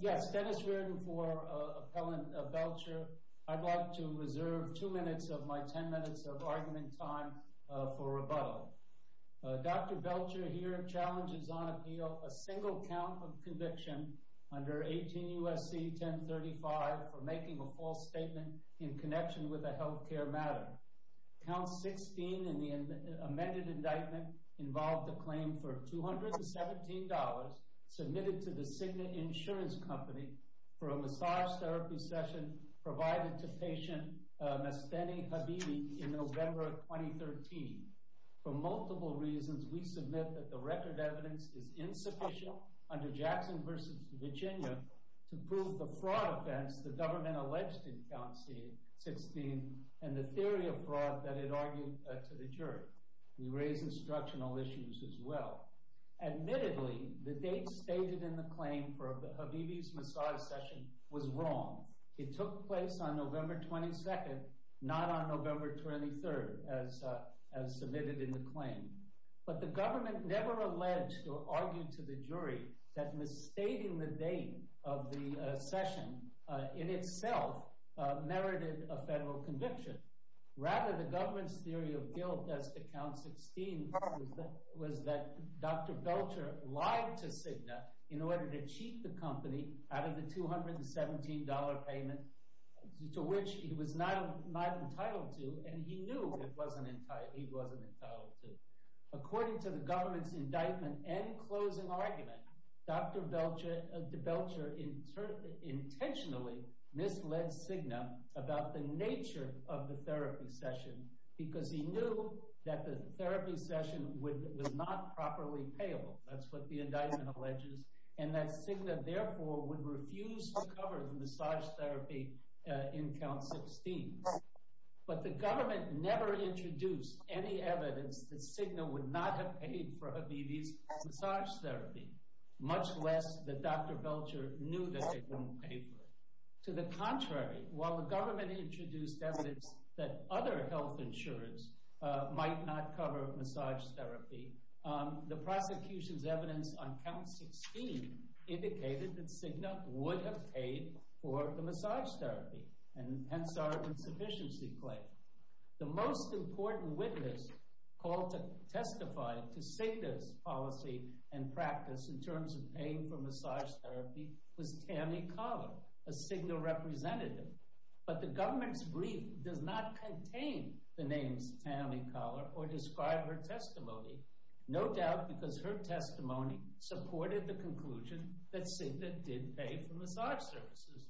Yes, Dennis Reardon for Appellant Belcher. I'd like to reserve two minutes of my ten minutes of argument time for rebuttal. Dr. Belcher here challenges on appeal a single count of conviction under 18 U.S.C. 1035 for making a false statement in connection with a health care matter. Count 16 in the amended indictment involved a claim for $217 submitted to the Cigna Insurance Company for a massage therapy session provided to patient Nasteni Habibi in November of 2013. For multiple reasons, we submit that the record evidence is insufficient under Jackson v. Virginia to prove the fraud offense the government alleged in Count 16 and the theory of fraud that it argued to the jury. We raise instructional issues as well. Admittedly, the date stated in the claim for Habibi's massage session was wrong. It took place on November 22, not on November 23, as submitted in the claim. But the government never alleged or argued to the jury that misstating the date of the session in itself merited a federal conviction. Rather, the government's theory of guilt as to Count 16 was that Dr. Belcher lied to Cigna in order to cheat the company out of the $217 payment to which he was not entitled to, and he knew he wasn't entitled to. According to the government's indictment and closing argument, Dr. Belcher intentionally misled Cigna about the nature of the therapy session because he knew that the therapy session was not properly payable. That's what the indictment alleges, and that Cigna, therefore, would refuse to cover the massage therapy in Count 16. But the government never introduced any evidence that Cigna would not have paid for Habibi's massage therapy, much less that Dr. Belcher knew that they wouldn't pay for it. To the contrary, while the government introduced evidence that other health insurance might not cover massage therapy, the prosecution's evidence on Count 16 indicated that Cigna would have paid for the massage therapy, and hence our insufficiency claim. The most important witness called to testify to Cigna's policy and practice in terms of paying for massage therapy was Tammy Collar, a Cigna representative. But the government's brief does not contain the names Tammy Collar or describe her testimony, no doubt because her testimony supported the conclusion that Cigna did pay for massage services.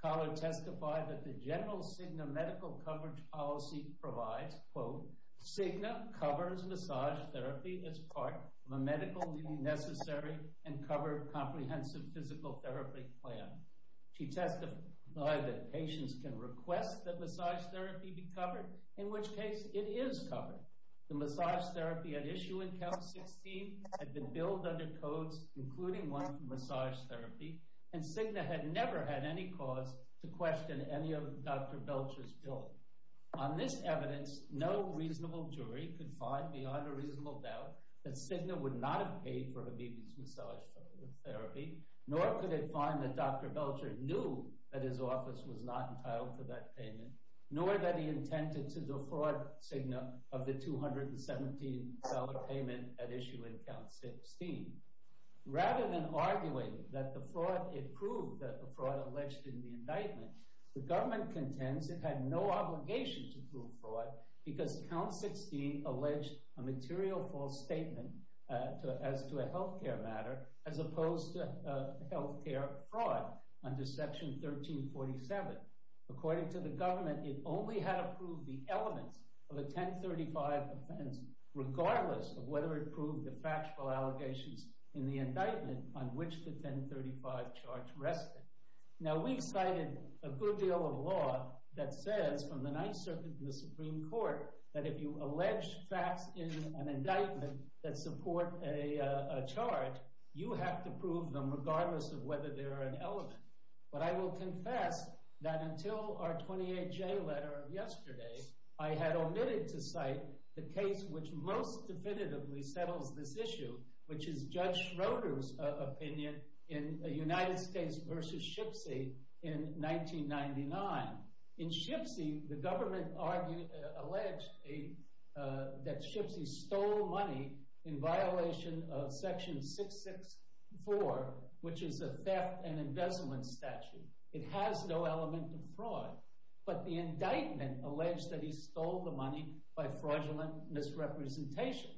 Collar testified that the general Cigna medical coverage policy provides, quote, Cigna covers massage therapy as part of a medically necessary and covered comprehensive physical therapy plan. She testified that patients can request that massage therapy be covered, in which case it is covered. The massage therapy at issue in Count 16 had been billed under codes, including one for massage therapy, and Cigna had never had any cause to question any of Dr. Belcher's billing. On this evidence, no reasonable jury could find beyond a reasonable doubt that Cigna would not have paid for Habibi's massage therapy, nor could it find that Dr. Belcher knew that his office was not entitled to that payment, nor that he intended to defraud Cigna of the $217 payment at issue in Count 16. Rather than arguing that the fraud, it proved that the fraud alleged in the indictment, the government contends it had no obligation to prove fraud because Count 16 alleged a material false statement as to a health care matter as opposed to health care fraud under Section 1347. According to the government, it only had to prove the elements of a 1035 offense regardless of whether it proved the factual allegations in the indictment on which the 1035 charge rested. Now, we've cited a good deal of law that says from the Ninth Circuit to the Supreme Court that if you allege facts in an indictment that support a charge, you have to prove them regardless of whether they are an element. But I will confess that until our 28-J letter yesterday, I had omitted to cite the case which most definitively settles this issue, which is Judge Schroeder's opinion in United States v. Shipsy in 1999. In Shipsy, the government alleged that Shipsy stole money in violation of Section 664, which is a theft and embezzlement statute. It has no element of fraud, but the indictment alleged that he stole the money by fraudulent misrepresentations.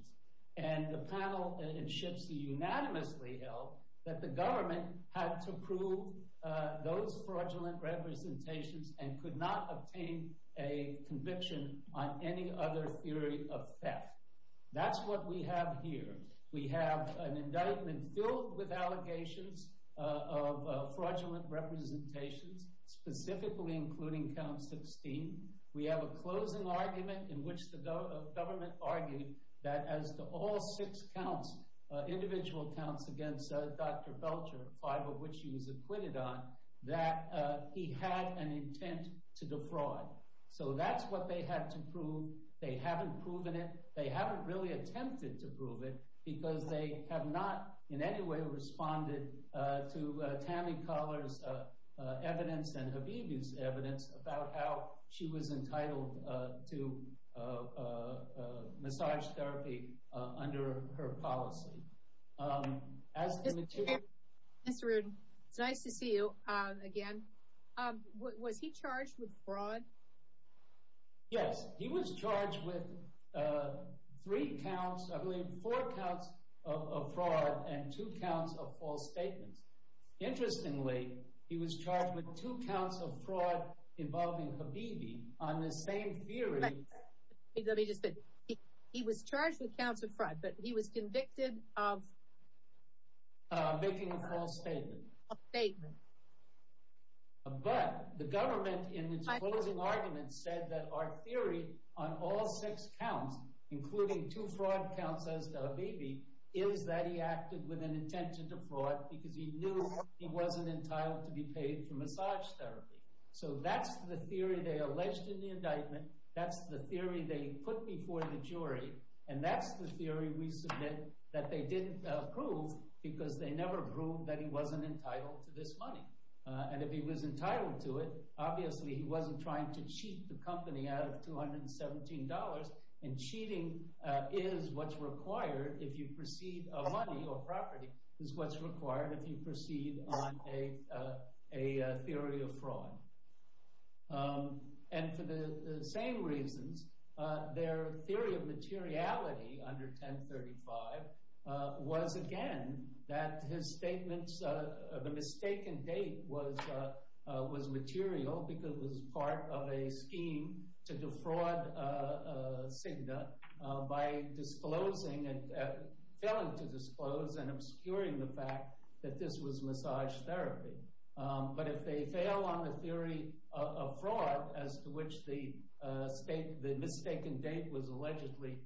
And the panel in Shipsy unanimously held that the government had to prove those fraudulent representations and could not obtain a conviction on any other theory of theft. That's what we have here. We have an indictment filled with allegations of fraudulent representations, specifically including count 16. We have a closing argument in which the government argued that as to all six counts, individual counts against Dr. Belcher, five of which he was acquitted on, that he had an intent to defraud. So that's what they had to prove. They haven't proven it. They haven't really attempted to prove it because they have not in any way responded to Tammy Collar's evidence and Habibi's evidence about how she was entitled to massage therapy under her policy. Mr. Rudin, it's nice to see you again. Was he charged with fraud? Yes, he was charged with three counts, I believe four counts of fraud and two counts of false statements. Interestingly, he was charged with two counts of fraud involving Habibi on the same theory. Let me just finish. He was charged with two counts of fraud, but he was convicted of making a false statement. But the government in its closing argument said that our theory on all six counts, including two fraud counts as to Habibi, is that he acted with an intention to fraud because he knew he wasn't entitled to be paid for massage therapy. So that's the theory they alleged in the indictment. That's the theory they put before the jury. And that's the theory we submit that they didn't prove because they never proved that he wasn't entitled to this money. And if he was entitled to it, obviously he wasn't trying to cheat the company out of $217. And cheating is what's required if you proceed – money or property is what's required if you proceed on a theory of fraud. And for the same reasons, their theory of materiality under 1035 was, again, that his statements – the mistaken date was material because it was part of a scheme to defraud Cigna by disclosing – failing to disclose and obscuring the fact that this was massage therapy. But if they fail on the theory of fraud as to which the mistaken date was allegedly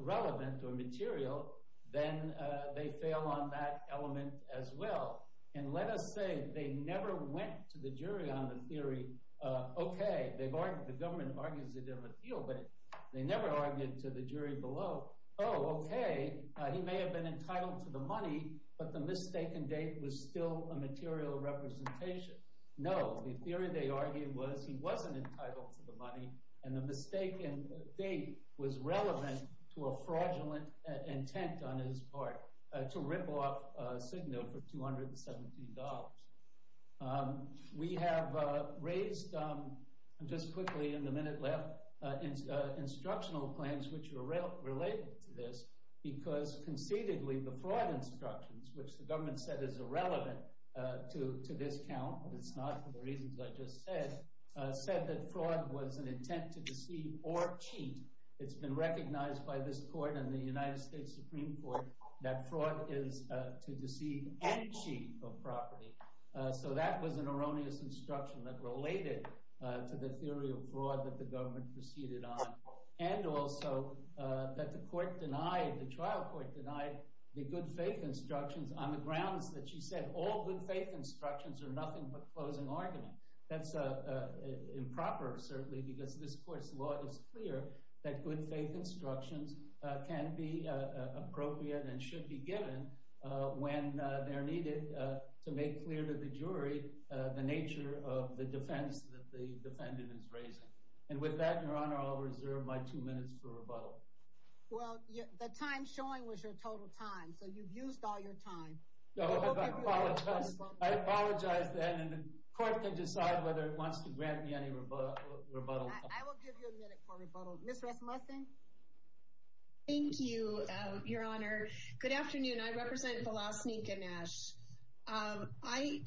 relevant or material, then they fail on that element as well. And let us say they never went to the jury on the theory, okay – the government argues it in appeal, but they never argued to the jury below, oh, okay, he may have been entitled to the money, but the mistaken date was still a material representation. No, the theory they argued was he wasn't entitled to the money, and the mistaken date was relevant to a fraudulent intent on his part to rip off Cigna for $217. We have raised just quickly in the minute left instructional claims which are related to this because concededly the fraud instructions, which the government said is irrelevant to this count – it's not for the reasons I just said – said that fraud was an intent to deceive or cheat. It's been recognized by this court and the United States Supreme Court that fraud is to deceive and cheat of property. So that was an erroneous instruction that related to the theory of fraud that the government proceeded on and also that the court denied – the trial court denied the good faith instructions on the grounds that she said all good faith instructions are nothing but closing argument. That's improper certainly because this court's law is clear that good faith instructions can be appropriate and should be given when they're needed to make clear to the jury the nature of the defense that the defendant is raising. And with that, Your Honor, I'll reserve my two minutes for rebuttal. Well, the time showing was your total time, so you've used all your time. I apologize then and the court can decide whether it wants to grant me any rebuttal. I will give you a minute for rebuttal. Ms. Rasmussen? Thank you, Your Honor. Good afternoon. I represent Vlasnik and Nash. I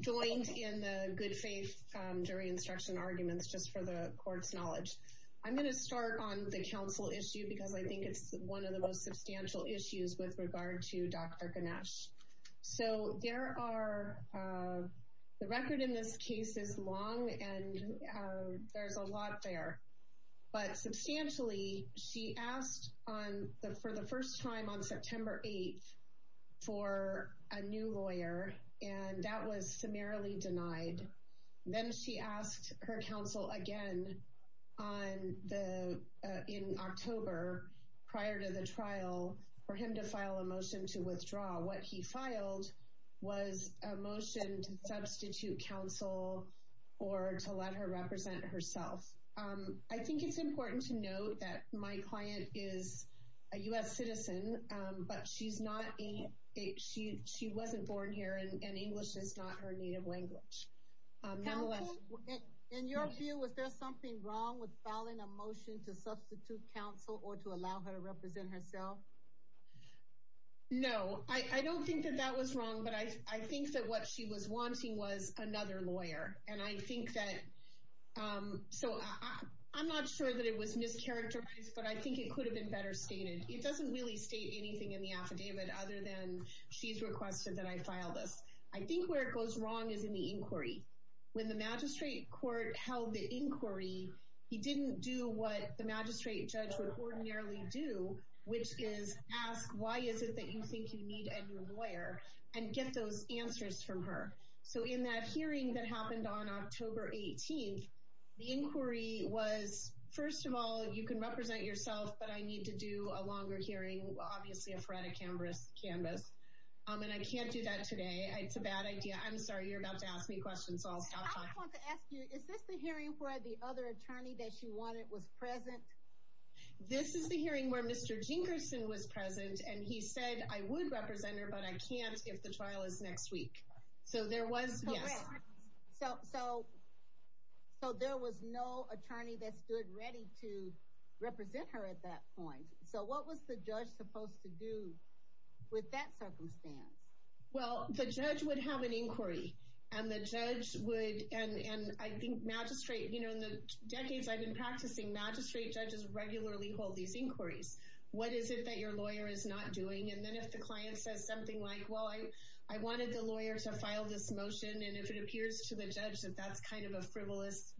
joined in the good faith jury instruction arguments just for the court's knowledge. I'm going to start on the counsel issue because I think it's one of the most substantial issues with regard to Dr. Ganesh. So there are – the record in this case is long and there's a lot there. But substantially, she asked for the first time on September 8th for a new lawyer and that was summarily denied. Then she asked her counsel again in October prior to the trial for him to file a motion to withdraw. What he filed was a motion to substitute counsel or to let her represent herself. I think it's important to note that my client is a U.S. citizen, but she's not a – she wasn't born here and English is not her native language. Counsel, in your view, was there something wrong with filing a motion to substitute counsel or to allow her to represent herself? No, I don't think that that was wrong, but I think that what she was wanting was another lawyer. And I think that – so I'm not sure that it was mischaracterized, but I think it could have been better stated. It doesn't really state anything in the affidavit other than she's requested that I file this. I think where it goes wrong is in the inquiry. When the magistrate court held the inquiry, he didn't do what the magistrate judge would ordinarily do, which is ask why is it that you think you need a new lawyer and get those answers from her. So in that hearing that happened on October 18th, the inquiry was, first of all, you can represent yourself, but I need to do a longer hearing, obviously a phoretic canvas. And I can't do that today. It's a bad idea. I'm sorry, you're about to ask me questions, so I'll stop talking. I want to ask you, is this the hearing where the other attorney that she wanted was present? This is the hearing where Mr. Jinkerson was present, and he said, I would represent her, but I can't if the trial is next week. So there was, yes. So there was no attorney that stood ready to represent her at that point. So what was the judge supposed to do with that circumstance? Well, the judge would have an inquiry. And the judge would, and I think magistrate, you know, in the decades I've been practicing, magistrate judges regularly hold these inquiries. What is it that your lawyer is not doing? And then if the client says something like, well, I wanted the lawyer to file this motion, and if it appears to the judge that that's kind of a frivolous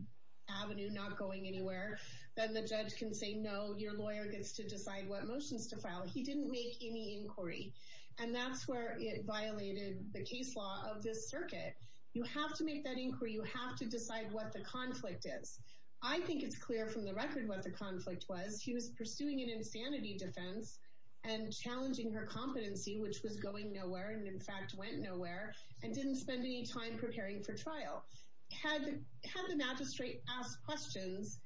avenue, not going anywhere, then the judge can say, no, your lawyer gets to decide what motions to file. He didn't make any inquiry. And that's where it violated the case law of this circuit. You have to make that inquiry. You have to decide what the conflict is. I think it's clear from the record what the conflict was. He was pursuing an insanity defense and challenging her competency, which was going nowhere and, in fact, went nowhere, and didn't spend any time preparing for trial. Had the magistrate asked questions,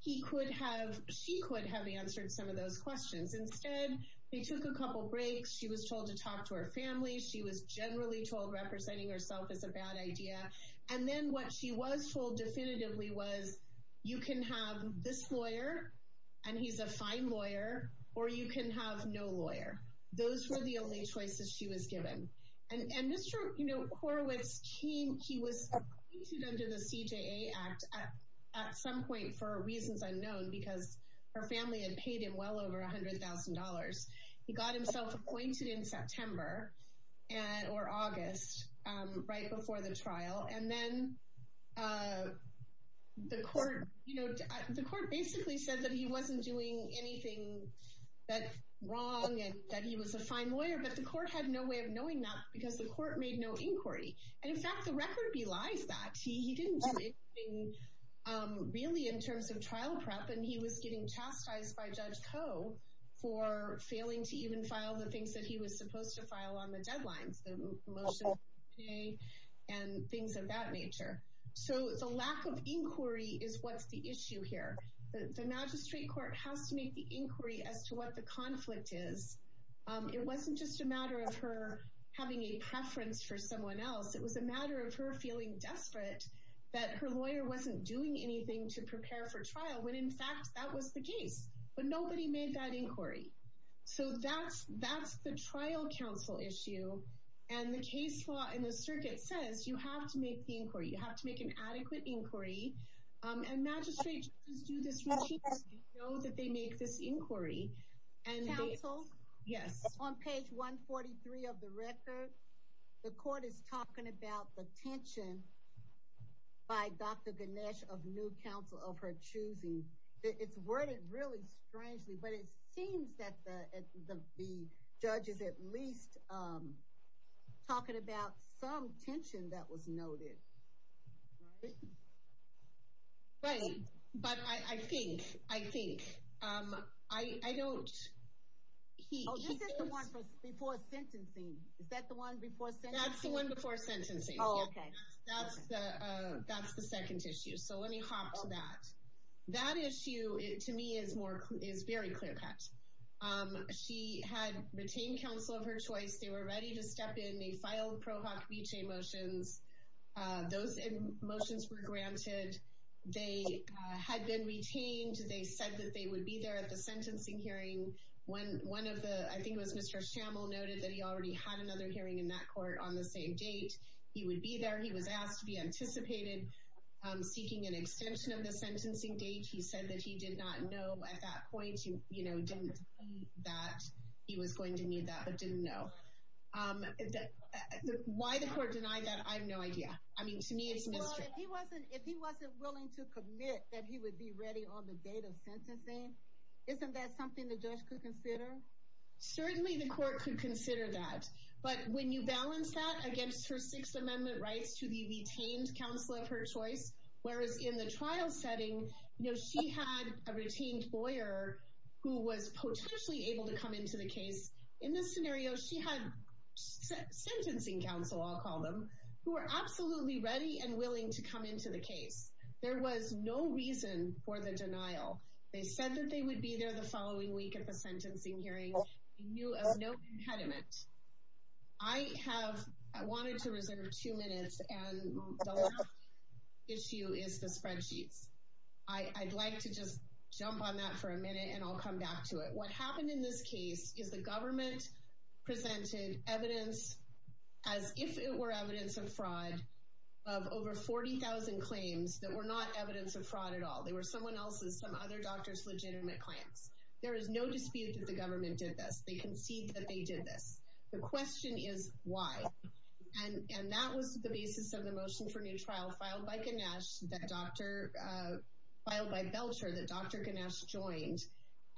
he could have, she could have answered some of those questions. Instead, they took a couple breaks. She was told to talk to her family. She was generally told representing herself is a bad idea. And then what she was told definitively was, you can have this lawyer, and he's a fine lawyer, or you can have no lawyer. Those were the only choices she was given. And Mr. Korowitz, he was appointed under the CJA Act at some point for reasons unknown because her family had paid him well over $100,000. He got himself appointed in September or August, right before the trial. And then the court basically said that he wasn't doing anything wrong and that he was a fine lawyer, but the court had no way of knowing that because the court made no inquiry. And, in fact, the record belies that. He didn't do anything really in terms of trial prep, and he was getting chastised by Judge Koh for failing to even file the things that he was supposed to file on the deadlines, the motions of the CJA and things of that nature. So the lack of inquiry is what's the issue here. The magistrate court has to make the inquiry as to what the conflict is. It wasn't just a matter of her having a preference for someone else. It was a matter of her feeling desperate that her lawyer wasn't doing anything to prepare for trial when, in fact, that was the case. But nobody made that inquiry. So that's the trial counsel issue. And the case law in the circuit says you have to make the inquiry. You have to make an adequate inquiry. And magistrates do this when they know that they make this inquiry. Counsel? Yes. On page 143 of the record, the court is talking about the tension by Dr. Ganesh of new counsel of her choosing. It's worded really strangely, but it seems that the judge is at least talking about some tension that was noted. Right? Right. But I think, I think, I don't. Oh, this is the one before sentencing. Is that the one before sentencing? That's the one before sentencing. Oh, okay. That's the second issue. So let me hop to that. That issue, to me, is very clear cut. She had retained counsel of her choice. They were ready to step in. They filed Pro Hoc Vitae motions. Those motions were granted. They had been retained. They said that they would be there at the sentencing hearing. One of the, I think it was Mr. Schammel noted that he already had another hearing in that court on the same date. He would be there. He was asked to be anticipated. Seeking an extension of the sentencing date, he said that he did not know at that point. He, you know, didn't know that he was going to need that, but didn't know. Why the court denied that, I have no idea. I mean, to me, it's mystery. Well, if he wasn't willing to commit that he would be ready on the date of sentencing, isn't that something the judge could consider? Certainly the court could consider that. But when you balance that against her Sixth Amendment rights to the retained counsel of her choice, whereas in the trial setting, you know, she had a retained lawyer who was potentially able to come into the case. In this scenario, she had sentencing counsel, I'll call them, who were absolutely ready and willing to come into the case. There was no reason for the denial. They said that they would be there the following week at the sentencing hearing. They knew of no impediment. I have, I wanted to reserve two minutes, and the last issue is the spreadsheets. I'd like to just jump on that for a minute, and I'll come back to it. What happened in this case is the government presented evidence, as if it were evidence of fraud, of over 40,000 claims that were not evidence of fraud at all. They were someone else's, some other doctor's legitimate claims. There is no dispute that the government did this. They concede that they did this. The question is why. And that was the basis of the motion for new trial filed by Ganesh, filed by Belcher, that Dr. Ganesh joined.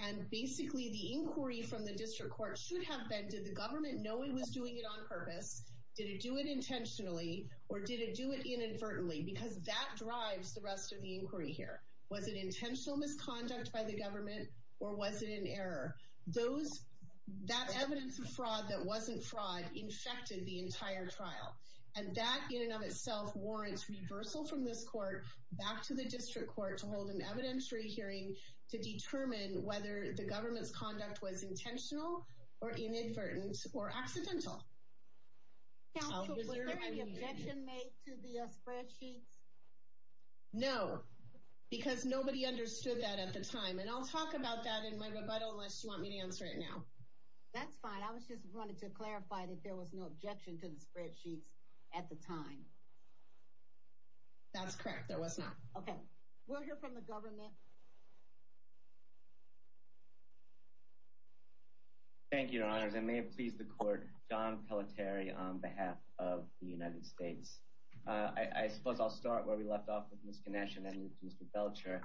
And basically, the inquiry from the district court should have been, did the government know it was doing it on purpose? Did it do it intentionally, or did it do it inadvertently? Because that drives the rest of the inquiry here. Was it intentional misconduct by the government, or was it an error? That evidence of fraud that wasn't fraud infected the entire trial. And that, in and of itself, warrants reversal from this court back to the district court to hold an evidentiary hearing to determine whether the government's conduct was intentional or inadvertent or accidental. Counsel, was there any objection made to the spreadsheets? No, because nobody understood that at the time. And I'll talk about that in my rebuttal unless you want me to answer it now. That's fine. I just wanted to clarify that there was no objection to the spreadsheets at the time. That's correct. There was not. Okay. We'll hear from the government. Thank you, Your Honors. I may have pleased the court. John Pelletieri on behalf of the United States. I suppose I'll start where we left off with Ms. Ganesh and then with Mr. Belcher.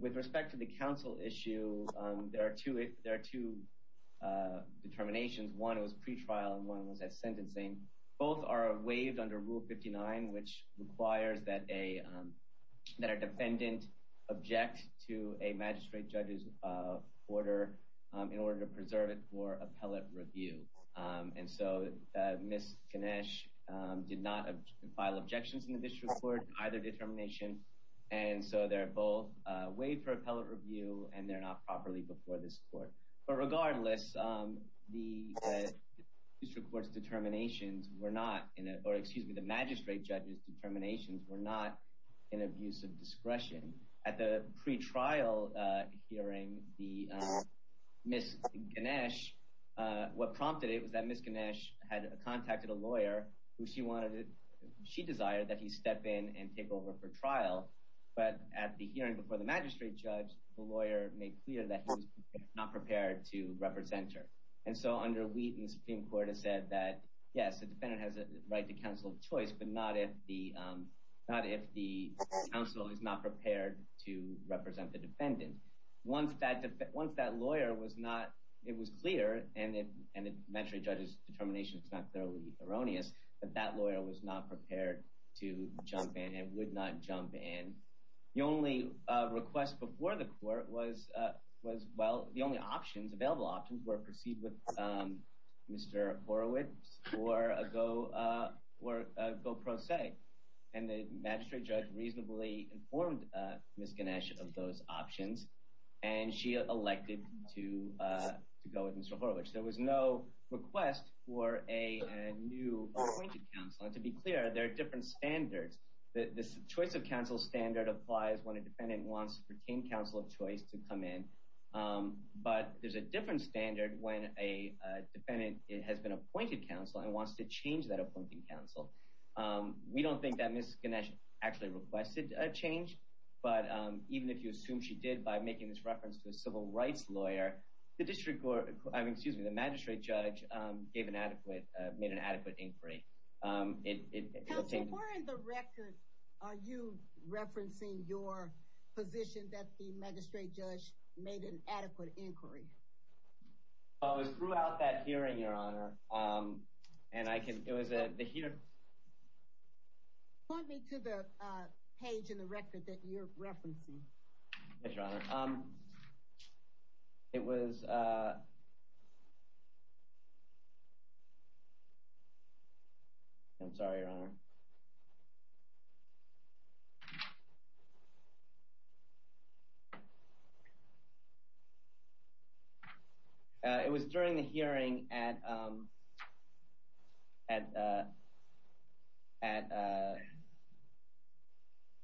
With respect to the counsel issue, there are two determinations. One was pretrial, and one was at sentencing. Both are waived under Rule 59, which requires that a defendant object to a magistrate judge's order in order to preserve it for appellate review. And so Ms. Ganesh did not file objections in the district court to either determination. And so they're both waived for appellate review, and they're not properly before this court. But regardless, the magistrate judge's determinations were not in abuse of discretion. At the pretrial hearing, what prompted it was that Ms. Ganesh had contacted a lawyer. She desired that he step in and take over for trial. But at the hearing before the magistrate judge, the lawyer made clear that he was not prepared to represent her. And so under Wheaton, the Supreme Court has said that, yes, the defendant has a right to counsel of choice, but not if the counsel is not prepared to represent the defendant. And once that lawyer was not—it was clear, and the magistrate judge's determination is not thoroughly erroneous, that that lawyer was not prepared to jump in and would not jump in. The only request before the court was—well, the only options, available options, were proceed with Mr. Horowitz or a go pro se. And the magistrate judge reasonably informed Ms. Ganesh of those options, and she elected to go with Mr. Horowitz. There was no request for a new appointed counsel. And to be clear, there are different standards. The choice of counsel standard applies when a defendant wants to retain counsel of choice to come in. But there's a different standard when a defendant has been appointed counsel and wants to change that appointed counsel. We don't think that Ms. Ganesh actually requested a change, but even if you assume she did by making this reference to a civil rights lawyer, the magistrate judge gave an adequate—made an adequate inquiry. Counsel, where in the record are you referencing your position that the magistrate judge made an adequate inquiry? Oh, it was throughout that hearing, Your Honor. And I can—it was at the hearing. Point me to the page in the record that you're referencing. Yes, Your Honor. It was—I'm sorry, Your Honor. It was during the hearing at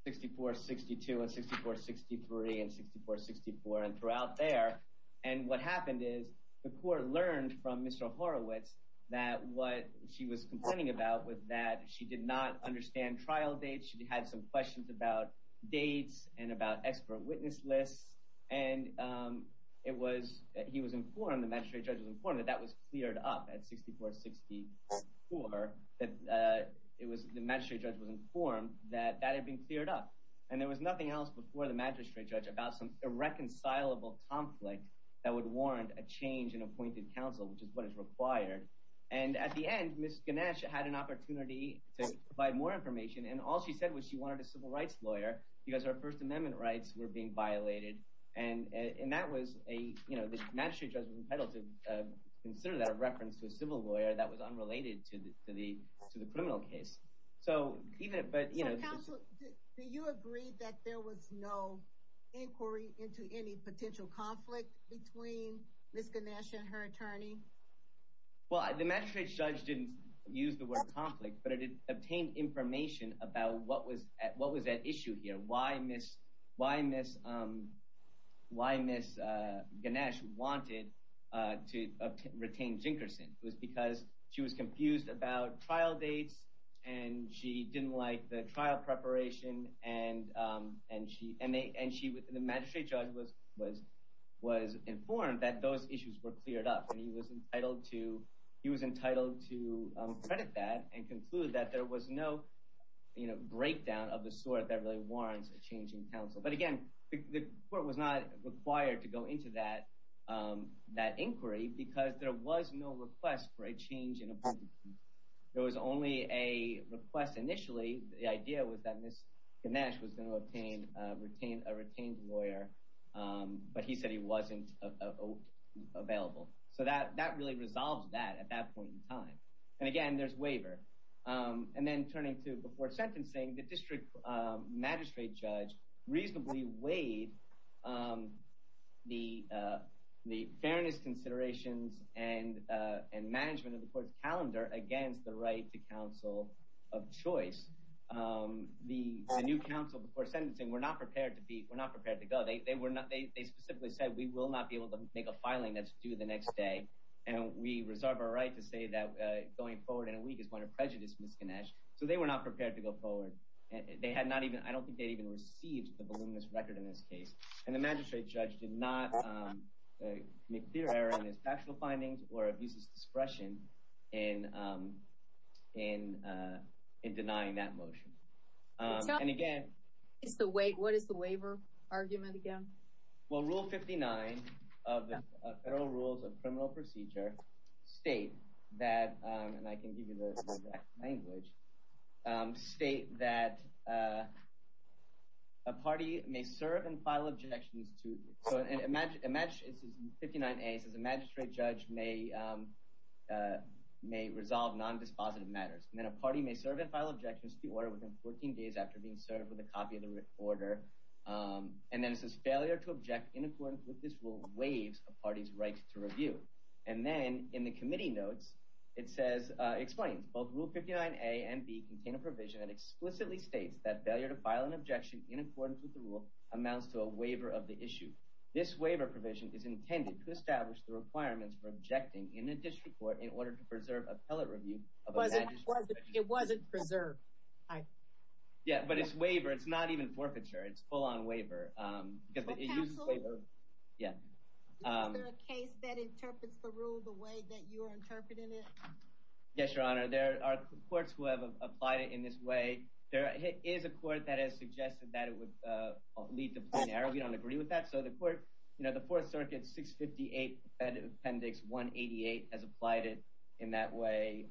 6462 and 6463 and 6464 and throughout there. And what happened is the court learned from Mr. Horowitz that what she was complaining about was that she did not understand trial dates. She had some questions about dates and about expert witness lists. And it was—he was informed, the magistrate judge was informed that that was cleared up at 6464, that it was—the magistrate judge was informed that that had been cleared up. And there was nothing else before the magistrate judge about some irreconcilable conflict that would warrant a change in appointed counsel, which is what is required. And at the end, Ms. Ganesh had an opportunity to provide more information, and all she said was she wanted a civil rights lawyer because her First Amendment rights were being violated. And that was a—the magistrate judge was entitled to consider that a reference to a civil lawyer that was unrelated to the criminal case. So counsel, do you agree that there was no inquiry into any potential conflict between Ms. Ganesh and her attorney? Well, the magistrate judge didn't use the word conflict, but it obtained information about what was at issue here, why Ms. Ganesh wanted to retain Jinkerson. It was because she was confused about trial dates, and she didn't like the trial preparation, and she—the magistrate judge was informed that those issues were cleared up. And he was entitled to credit that and conclude that there was no breakdown of the sort that really warrants a change in counsel. But again, the court was not required to go into that inquiry because there was no request for a change in appointed counsel. There was only a request initially. The idea was that Ms. Ganesh was going to obtain a retained lawyer, but he said he wasn't available. So that really resolves that at that point in time. And again, there's waiver. And then turning to before sentencing, the district magistrate judge reasonably weighed the fairness considerations and management of the court's calendar against the right to counsel of choice. The new counsel before sentencing were not prepared to be—were not prepared to go. They specifically said, we will not be able to make a filing that's due the next day, and we reserve our right to say that going forward in a week is going to prejudice Ms. Ganesh. So they were not prepared to go forward. They had not even—I don't think they'd even received the voluminous record in this case. And the magistrate judge did not make clear error in his factual findings or abuse his discretion in denying that motion. And again— What is the waiver argument again? Well, Rule 59 of the Federal Rules of Criminal Procedure state that—and I can give you the exact language—state that a party may serve and file objections to— after being served with a copy of the order. And then it says, failure to object in accordance with this rule waives a party's right to review. And then in the committee notes, it says—explains, both Rule 59A and B contain a provision that explicitly states that failure to file an objection in accordance with the rule amounts to a waiver of the issue. This waiver provision is intended to establish the requirements for objecting in a district court in order to preserve appellate review of a magistrate's— It wasn't preserved. Yeah, but it's waiver. It's not even forfeiture. It's full-on waiver. It's for counsel? Yeah. Is there a case that interprets the rule the way that you are interpreting it? Yes, Your Honor. There are courts who have applied it in this way. There is a court that has suggested that it would lead to plain error. We don't agree with that. So the court—you know, the Fourth Circuit 658 Appendix 188 has applied it in that way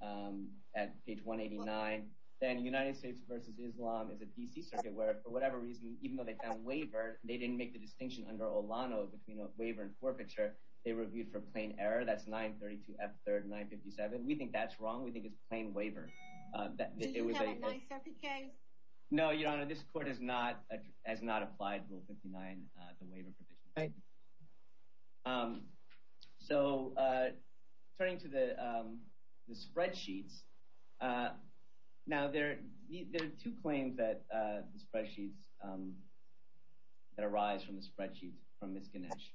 at page 189. Then United States v. Islam is a D.C. circuit where, for whatever reason, even though they found waiver, they didn't make the distinction under Olano between a waiver and forfeiture. They reviewed for plain error. That's 932 F. 3rd 957. We think that's wrong. We think it's plain waiver. Do you have a 9th Circuit case? No, Your Honor. This court has not applied Rule 59, the waiver provision. Right. So turning to the spreadsheets, now there are two claims that arise from the spreadsheets from Ms. Ganesh.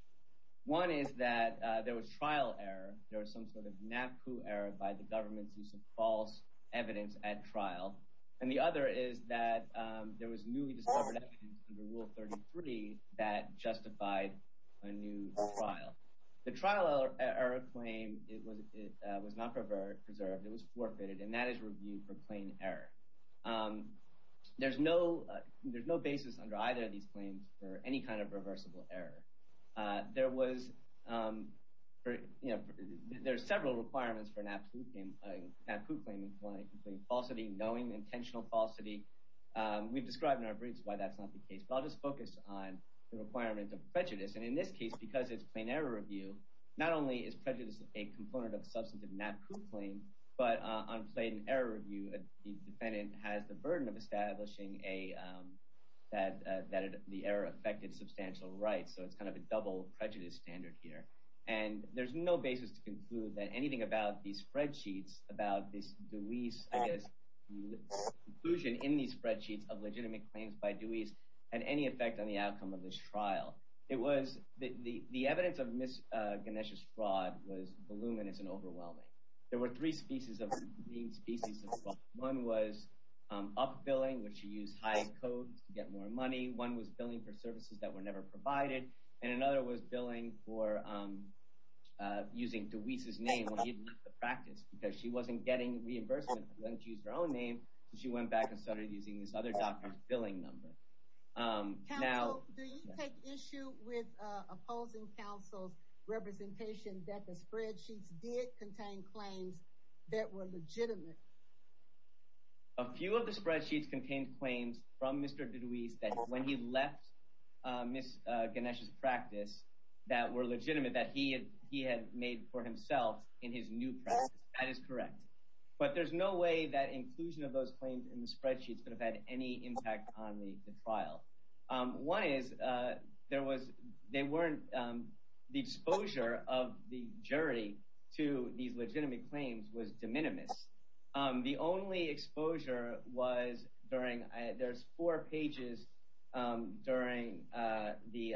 One is that there was trial error. There was some sort of NAPU error by the government's use of false evidence at trial. And the other is that there was newly discovered evidence under Rule 33 that justified a new trial. The trial error claim was not preserved. It was forfeited, and that is reviewed for plain error. There's no basis under either of these claims for any kind of reversible error. There's several requirements for a NAPU claim, including falsity, knowing intentional falsity. We've described in our briefs why that's not the case, but I'll just focus on the requirement of prejudice. And in this case, because it's plain error review, not only is prejudice a component of substantive NAPU claim, but on plain error review, the defendant has the burden of establishing that the error affected substantial rights. So it's kind of a double prejudice standard here. And there's no basis to conclude that anything about these spreadsheets, about this Dewey's, I guess, inclusion in these spreadsheets of legitimate claims by Dewey's had any effect on the outcome of this trial. It was – the evidence of Ms. Ganesh's fraud was voluminous and overwhelming. There were three species of fraud. One was up-billing, which she used high code to get more money. One was billing for services that were never provided. And another was billing for using Dewey's name when he left the practice because she wasn't getting reimbursement. She used her own name, so she went back and started using this other doctor's billing number. Counsel, do you take issue with opposing counsel's representation that the spreadsheets did contain claims that were legitimate? A few of the spreadsheets contained claims from Mr. Dewey's that when he left Ms. Ganesh's practice that were legitimate, that he had made for himself in his new practice. That is correct. But there's no way that inclusion of those claims in the spreadsheets could have had any impact on the trial. One is there was – they weren't – the exposure of the jury to these legitimate claims was de minimis. The only exposure was during – there's four pages during the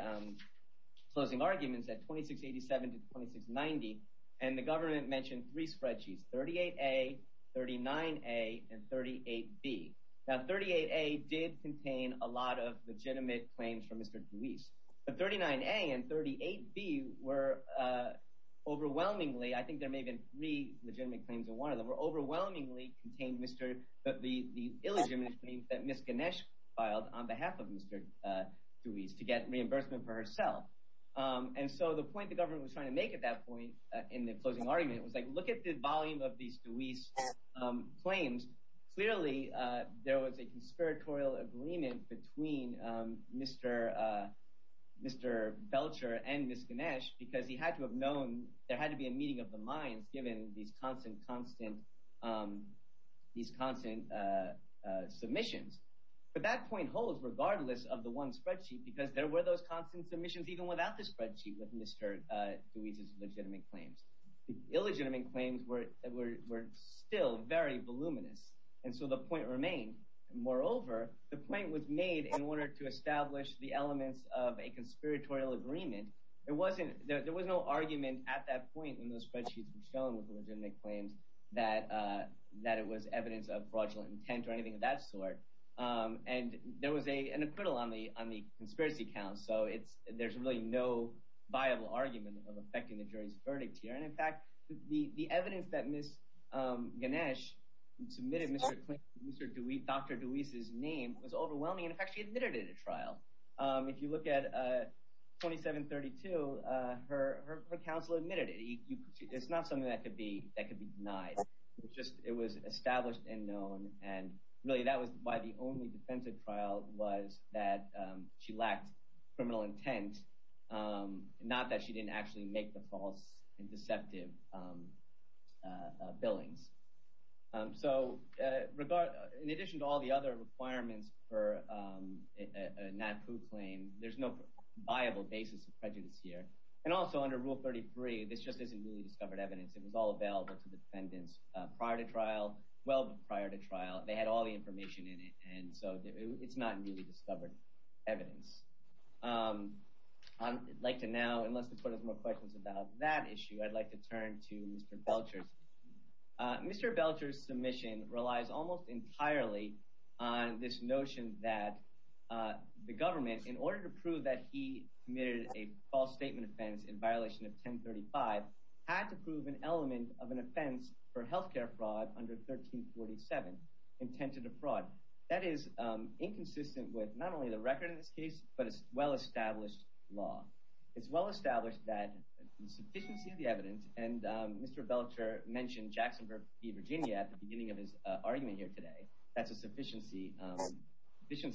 closing arguments at 2687 to 2690, and the government mentioned three spreadsheets, 38A, 39A, and 38B. Now, 38A did contain a lot of legitimate claims from Mr. Dewey's. But 39A and 38B were overwhelmingly – I think there may have been three legitimate claims in one of them – were overwhelmingly contained Mr. – the illegitimate claims that Ms. Ganesh filed on behalf of Mr. Dewey's to get reimbursement for herself. And so the point the government was trying to make at that point in the closing argument was like look at the volume of these Dewey's claims. Clearly, there was a conspiratorial agreement between Mr. Belcher and Ms. Ganesh because he had to have known – there had to be a meeting of the minds given these constant, constant – these constant submissions. But that point holds regardless of the one spreadsheet because there were those constant submissions even without the spreadsheet with Mr. Dewey's legitimate claims. The illegitimate claims were still very voluminous, and so the point remained. Moreover, the point was made in order to establish the elements of a conspiratorial agreement. There was no argument at that point when those spreadsheets were shown with legitimate claims that it was evidence of fraudulent intent or anything of that sort. And there was an acquittal on the conspiracy count, so there's really no viable argument of affecting the jury's verdict here. And in fact, the evidence that Ms. Ganesh submitted Mr. Dewey – Dr. Dewey's name was overwhelming. In fact, she admitted it at a trial. If you look at 2732, her counsel admitted it. It's not something that could be denied. It was established and known, and really that was why the only defensive trial was that she lacked criminal intent, not that she didn't actually make the false and deceptive billings. So in addition to all the other requirements for a NAPU claim, there's no viable basis of prejudice here. And also under Rule 33, this just isn't newly discovered evidence. It was all available to defendants prior to trial – well prior to trial. They had all the information in it, and so it's not newly discovered evidence. I'd like to now – unless the court has more questions about that issue, I'd like to turn to Mr. Belcher's. Mr. Belcher's submission relies almost entirely on this notion that the government, in order to prove that he committed a false statement offense in violation of 1035, had to prove an element of an offense for health care fraud under 1347 intended to fraud. That is inconsistent with not only the record in this case but a well-established law. It's well-established that the sufficiency of the evidence – and Mr. Belcher mentioned Jacksonville v. Virginia at the beginning of his argument here today. That's a sufficiency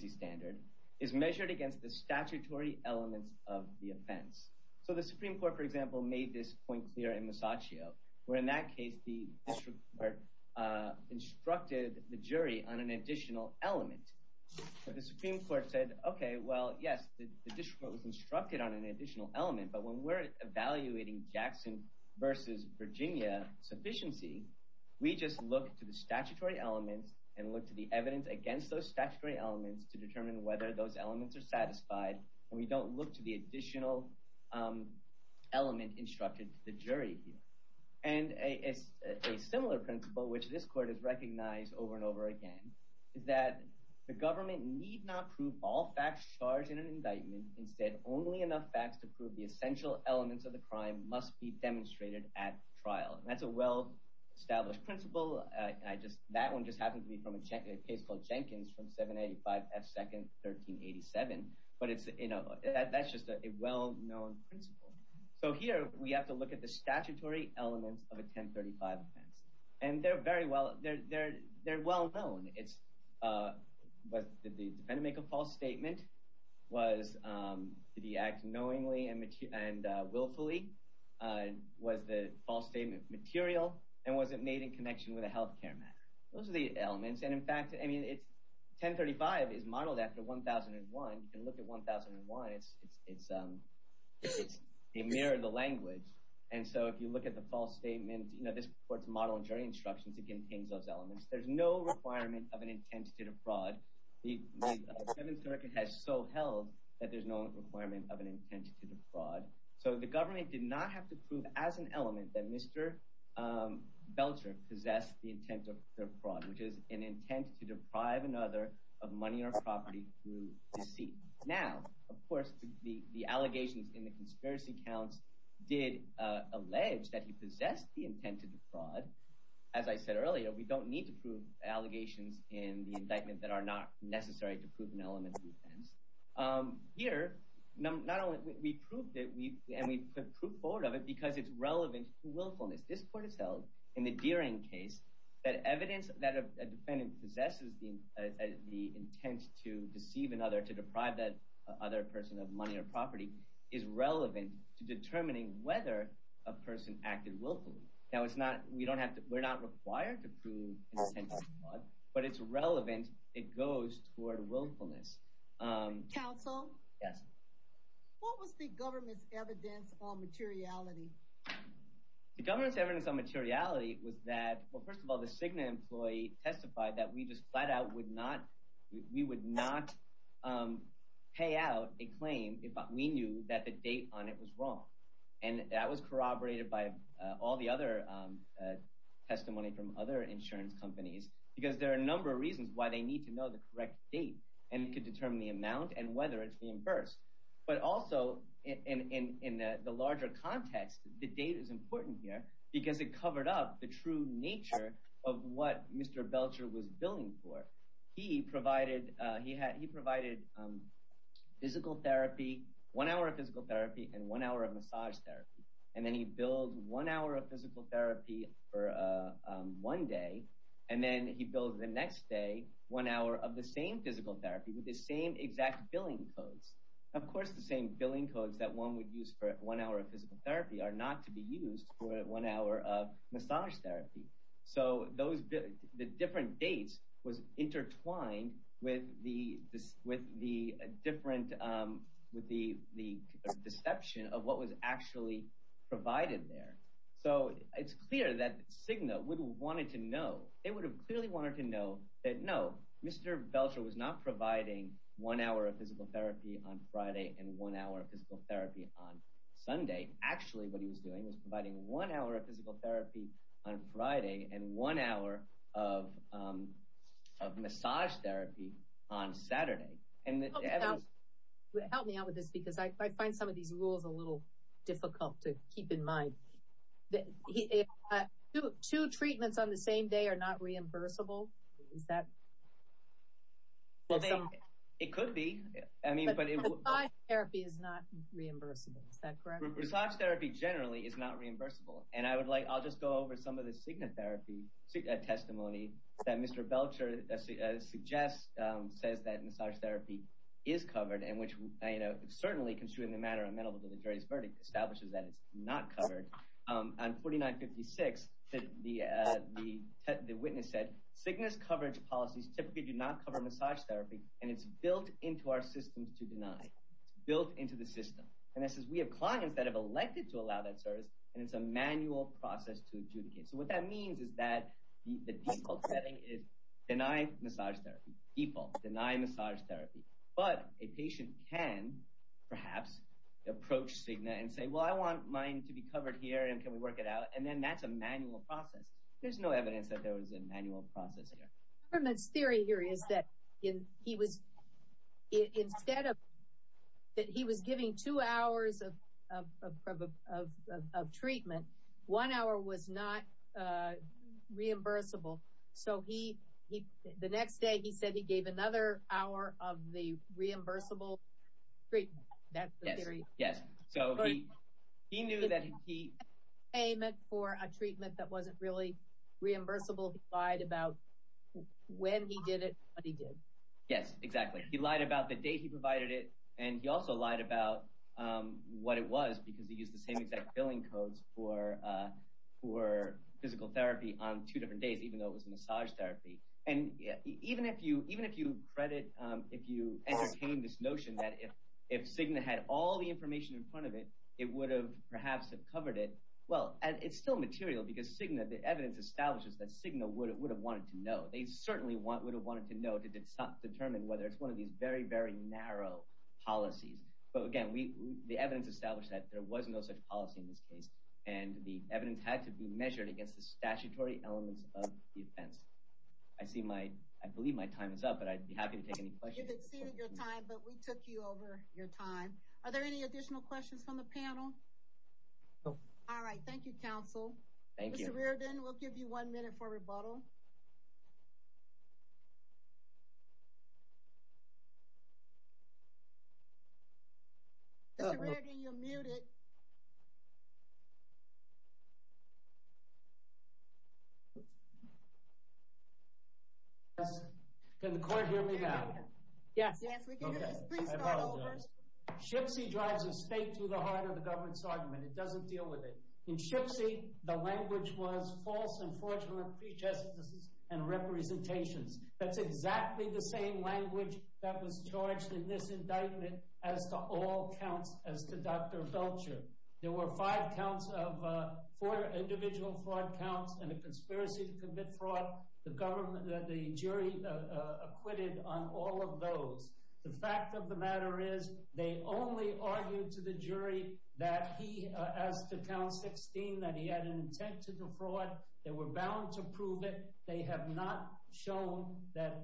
standard – is measured against the statutory elements of the offense. So the Supreme Court, for example, made this point clear in Masaccio, where in that case the district court instructed the jury on an additional element. The Supreme Court said, okay, well, yes, the district court was instructed on an additional element, but when we're evaluating Jackson v. Virginia sufficiency, we just look to the statutory elements and look to the evidence against those statutory elements to determine whether those elements are satisfied, and we don't look to the additional element instructed to the jury here. And a similar principle, which this court has recognized over and over again, is that the government need not prove all facts charged in an indictment. Instead, only enough facts to prove the essential elements of the crime must be demonstrated at trial. And that's a well-established principle. That one just happened to be from a case called Jenkins from 785 F. Second, 1387. But that's just a well-known principle. So here we have to look at the statutory elements of a 1035 offense, and they're very well – they're well-known. It's – did the defendant make a false statement? Was – did he act knowingly and willfully? Was the false statement material, and was it made in connection with a health care matter? Those are the elements. And in fact, I mean, it's – 1035 is modeled after 1001. You can look at 1001. It's a mirror of the language. And so if you look at the false statement, this court's model of jury instructions, it contains those elements. There's no requirement of an intent to defraud. The Seventh Circuit has so held that there's no requirement of an intent to defraud. So the government did not have to prove as an element that Mr. Belcher possessed the intent to defraud, which is an intent to deprive another of money or property through deceit. Now, of course, the allegations in the conspiracy counts did allege that he possessed the intent to defraud. As I said earlier, we don't need to prove allegations in the indictment that are not necessary to prove an element of offense. Here, not only – we proved it, and we put forward of it because it's relevant to willfulness. This court has held in the Deering case that evidence that a defendant possesses the intent to deceive another, to deprive that other person of money or property is relevant to determining whether a person acted willfully. Now, it's not – we don't have to – we're not required to prove an intent to defraud, but it's relevant. It goes toward willfulness. Counsel? Yes. What was the government's evidence on materiality? The government's evidence on materiality was that – well, first of all, the Cigna employee testified that we just flat out would not – we would not pay out a claim if we knew that the date on it was wrong. And that was corroborated by all the other testimony from other insurance companies because there are a number of reasons why they need to know the correct date and could determine the amount and whether it's reimbursed. But also, in the larger context, the date is important here because it covered up the true nature of what Mr. Belcher was billing for. He provided physical therapy, one hour of physical therapy and one hour of massage therapy, and then he billed one hour of physical therapy for one day, and then he billed the next day one hour of the same physical therapy with the same exact billing codes. Of course, the same billing codes that one would use for one hour of physical therapy are not to be used for one hour of massage therapy. So the different dates was intertwined with the deception of what was actually provided there. So it's clear that Cigna would have wanted to know. They would have clearly wanted to know that, no, Mr. Belcher was not providing one hour of physical therapy on Friday and one hour of physical therapy on Sunday. Actually, what he was doing was providing one hour of physical therapy on Friday and one hour of massage therapy on Saturday. Help me out with this because I find some of these rules a little difficult to keep in mind. Two treatments on the same day are not reimbursable? It could be. But massage therapy is not reimbursable, is that correct? Massage therapy generally is not reimbursable, and I'll just go over some of the Cigna therapy testimony that Mr. Belcher suggests says that massage therapy is covered, and which certainly, considering the matter amenable to the jury's verdict, establishes that it's not covered. On 4956, the witness said, Cigna's coverage policies typically do not cover massage therapy, and it's built into our systems to deny. It's built into the system. And this is, we have clients that have elected to allow that service, and it's a manual process to adjudicate. So what that means is that the default setting is deny massage therapy. Default, deny massage therapy. But a patient can perhaps approach Cigna and say, well, I want mine to be covered here, and can we work it out? And then that's a manual process. There's no evidence that there was a manual process here. The government's theory here is that instead of that he was giving two hours of treatment, one hour was not reimbursable. So the next day he said he gave another hour of the reimbursable treatment. That's the theory. Yes. So he knew that he- Payment for a treatment that wasn't really reimbursable, he lied about when he did it and what he did. Yes, exactly. He lied about the date he provided it, and he also lied about what it was because he used the same exact billing codes for physical therapy on two different days, even though it was a massage therapy. And even if you credit, if you entertain this notion that if Cigna had all the information in front of it, it would have perhaps covered it. Well, it's still material because Cigna, the evidence establishes that Cigna would have wanted to know. They certainly would have wanted to know to determine whether it's one of these very, very narrow policies. But again, the evidence established that there was no such policy in this case, and the evidence had to be measured against the statutory elements of the offense. I believe my time is up, but I'd be happy to take any questions. You've exceeded your time, but we took you over your time. Are there any additional questions from the panel? No. All right, thank you, counsel. Thank you. Mr. Reardon, we'll give you one minute for rebuttal. Mr. Reardon, you're muted. Can the court hear me now? Yes. Yes, we can hear you. Please start over. SHPSI drives a stake through the heart of the government's argument. It doesn't deal with it. In SHPSI, the language was false and fraudulent prejudices and representations. That's exactly the same language that was charged in this indictment as to all counts as to Dr. Belcher. There were five counts of four individual fraud counts and a conspiracy to commit fraud. The jury acquitted on all of those. The fact of the matter is they only argued to the jury that he, as to count 16, that he had an intent to defraud. They were bound to prove it. They have not shown that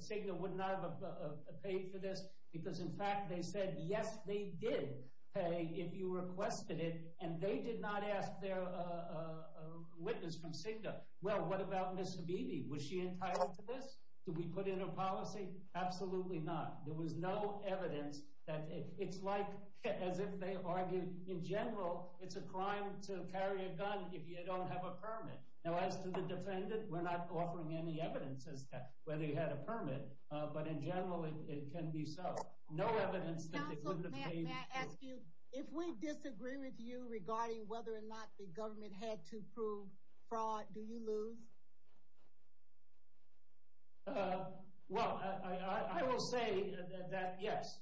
Cigna would not have paid for this because, in fact, they said, yes, they did pay if you requested it, and they did not ask their witness from Cigna, well, what about Ms. Habibi? Was she entitled to this? Did we put in a policy? Absolutely not. There was no evidence. It's like as if they argued in general it's a crime to carry a gun if you don't have a permit. Now, as to the defendant, we're not offering any evidence as to whether he had a permit, but in general it can be so. No evidence that they couldn't have paid for it. Counsel, may I ask you, if we disagree with you regarding whether or not the government had to prove fraud, do you lose? Well, I will say that yes.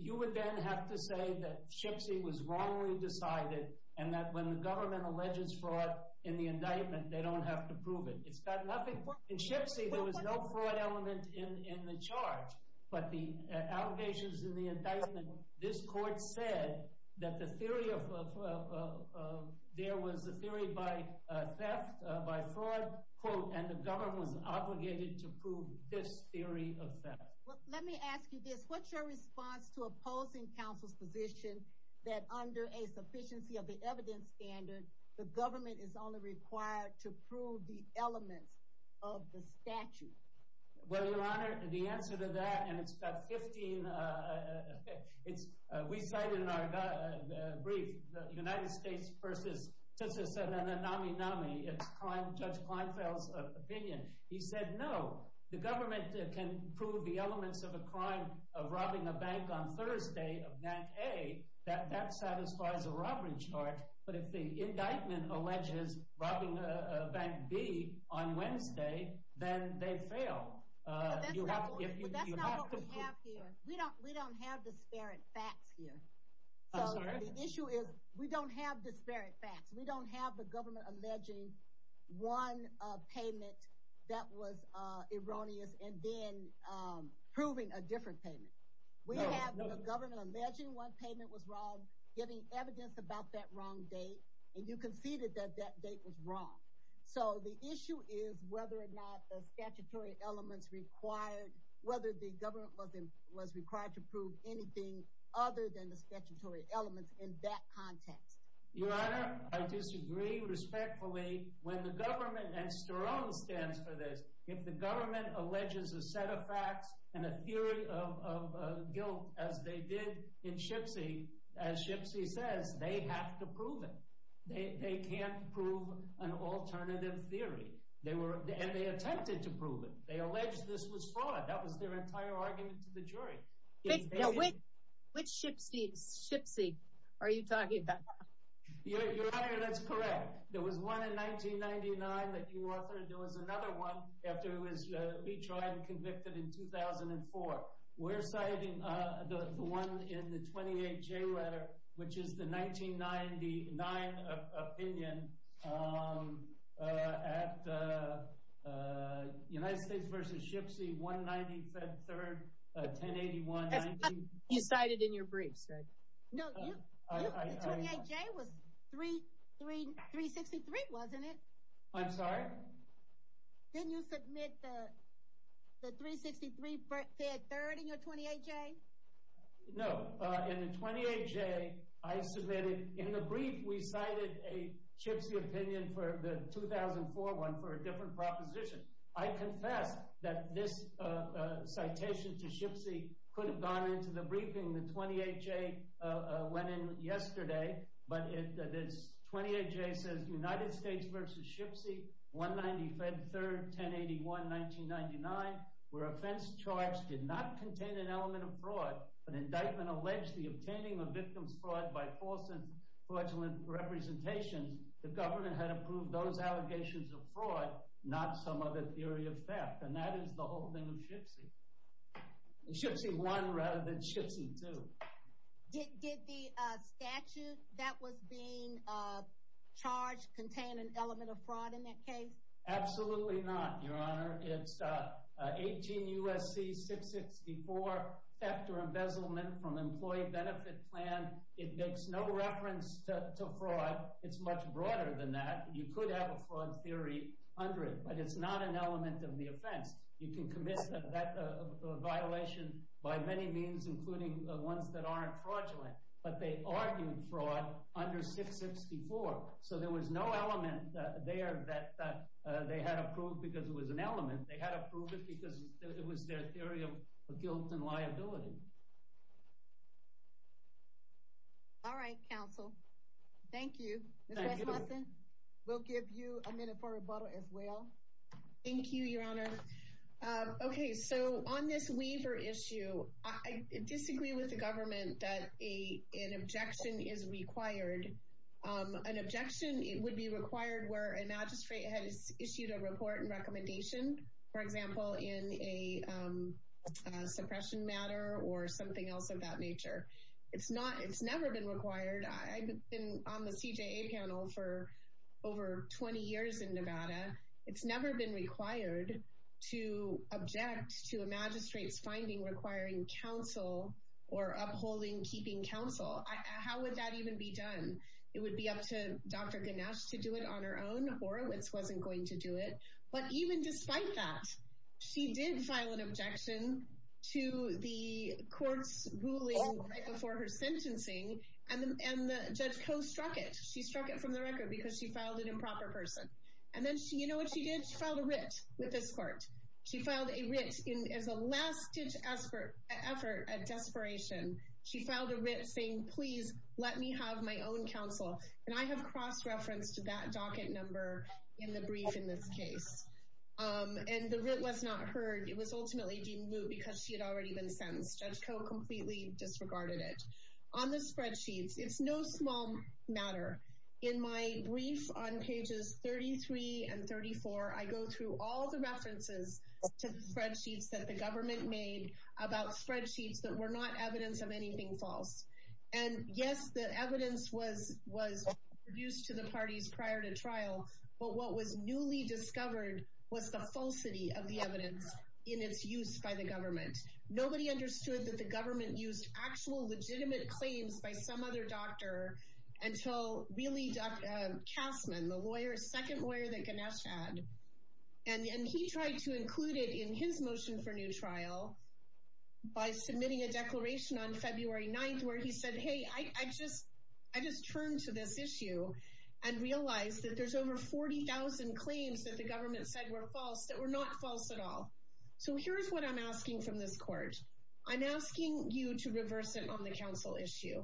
You would then have to say that Shipsy was wrongly decided and that when the government alleges fraud in the indictment, they don't have to prove it. It's got nothing – in Shipsy, there was no fraud element in the charge, but the allegations in the indictment, this court said that the theory of – there was a theory by theft, by fraud, quote, and the government was obligated to prove this theory of theft. Well, let me ask you this. What's your response to opposing counsel's position that under a sufficiency of the evidence standard, the government is only required to prove the elements of the statute? Well, Your Honor, the answer to that, and it's got 15 – we cited in our brief the United States versus – Justice said, and then NAMI-NAMI, it's Judge Kleinfeld's opinion. He said no, the government can prove the elements of a crime of robbing a bank on Thursday of NAC-A, that satisfies a robbery charge, but if the indictment alleges robbing Bank B on Wednesday, then they fail. But that's not what we have here. We don't have disparate facts here. I'm sorry? The issue is we don't have disparate facts. We don't have the government alleging one payment that was erroneous and then proving a different payment. We have the government alleging one payment was wrong, giving evidence about that wrong date, and you conceded that that date was wrong. So the issue is whether or not the statutory elements required – whether the government was required to prove anything other than the statutory elements in that context. Your Honor, I disagree respectfully when the government – and Sterling stands for this – if the government alleges a set of facts and a theory of guilt, as they did in Shipsy, as Shipsy says, they have to prove it. They can't prove an alternative theory, and they attempted to prove it. They alleged this was fraud. That was their entire argument to the jury. Which Shipsy are you talking about? Your Honor, that's correct. There was one in 1999 that you authored. There was another one after it was retried and convicted in 2004. We're citing the one in the 28J letter, which is the 1999 opinion at United States v. Shipsy, 190 Fed Third, 1081 – You cited in your briefs, right? No, the 28J was 363, wasn't it? I'm sorry? Didn't you submit the 363 Fed Third in your 28J? No. In the 28J, I submitted – in the brief, we cited a Shipsy opinion for the 2004 one for a different proposition. I confess that this citation to Shipsy could have gone into the briefing the 28J went in yesterday, but this 28J says United States v. Shipsy, 190 Fed Third, 1081, 1999, where offense charged did not contain an element of fraud. An indictment alleged the obtaining of victim's fraud by false and fraudulent representations. The government had approved those allegations of fraud, not some other theory of theft. And that is the whole thing of Shipsy. Shipsy 1 rather than Shipsy 2. Did the statute that was being charged contain an element of fraud in that case? Absolutely not, Your Honor. It's 18 U.S.C. 664, theft or embezzlement from employee benefit plan. It makes no reference to fraud. It's much broader than that. You could have a fraud theory under it, but it's not an element of the offense. You can commit that violation by many means, including ones that aren't fraudulent. But they argued fraud under 664. So there was no element there that they had approved because it was an element. They had approved it because it was their theory of guilt and liability. All right, counsel. Thank you. Ms. West-Hudson, we'll give you a minute for rebuttal as well. Thank you, Your Honor. Okay, so on this waiver issue, I disagree with the government that an objection is required. An objection would be required where a magistrate has issued a report and recommendation, for example, in a suppression matter or something else of that nature. It's never been required. I've been on the CJA panel for over 20 years in Nevada. It's never been required to object to a magistrate's finding requiring counsel or upholding, keeping counsel. How would that even be done? It would be up to Dr. Ganesh to do it on her own. Horowitz wasn't going to do it. But even despite that, she did file an objection to the court's ruling right before her sentencing, and the judge co-struck it. She struck it from the record because she filed an improper person. And then, you know what she did? She filed a writ with this court. She filed a writ as a last-ditch effort at desperation. She filed a writ saying, please let me have my own counsel. And I have cross-referenced to that docket number in the brief in this case. And the writ was not heard. It was ultimately deemed moot because she had already been sentenced. Judge Koh completely disregarded it. On the spreadsheets, it's no small matter. In my brief on pages 33 and 34, I go through all the references to spreadsheets that the government made about spreadsheets that were not evidence of anything false. And, yes, the evidence was produced to the parties prior to trial. But what was newly discovered was the falsity of the evidence in its use by the government. Nobody understood that the government used actual legitimate claims by some other doctor until, really, Kasman, the second lawyer that Ganesh had. And he tried to include it in his motion for new trial by submitting a declaration on February 9th where he said, hey, I just turned to this issue and realized that there's over 40,000 claims that the government said were false that were not false at all. So here's what I'm asking from this court. I'm asking you to reverse it on the counsel issue.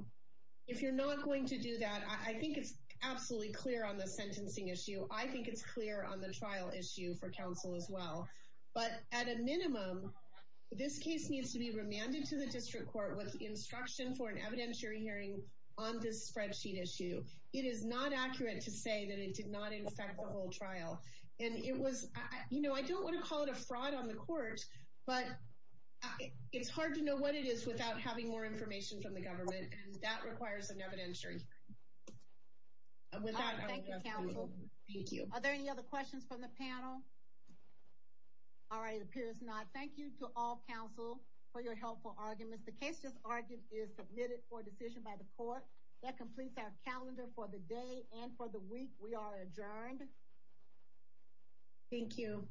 If you're not going to do that, I think it's absolutely clear on the sentencing issue. I think it's clear on the trial issue for counsel as well. But at a minimum, this case needs to be remanded to the district court with instruction for an evidentiary hearing on this spreadsheet issue. It is not accurate to say that it did not infect the whole trial. I don't want to call it a fraud on the court, but it's hard to know what it is without having more information from the government, and that requires an evidentiary hearing. Thank you, counsel. Are there any other questions from the panel? All right, it appears not. Thank you to all counsel for your helpful arguments. The case just argued is submitted for decision by the court. That completes our calendar for the day and for the week. We are adjourned. Thank you.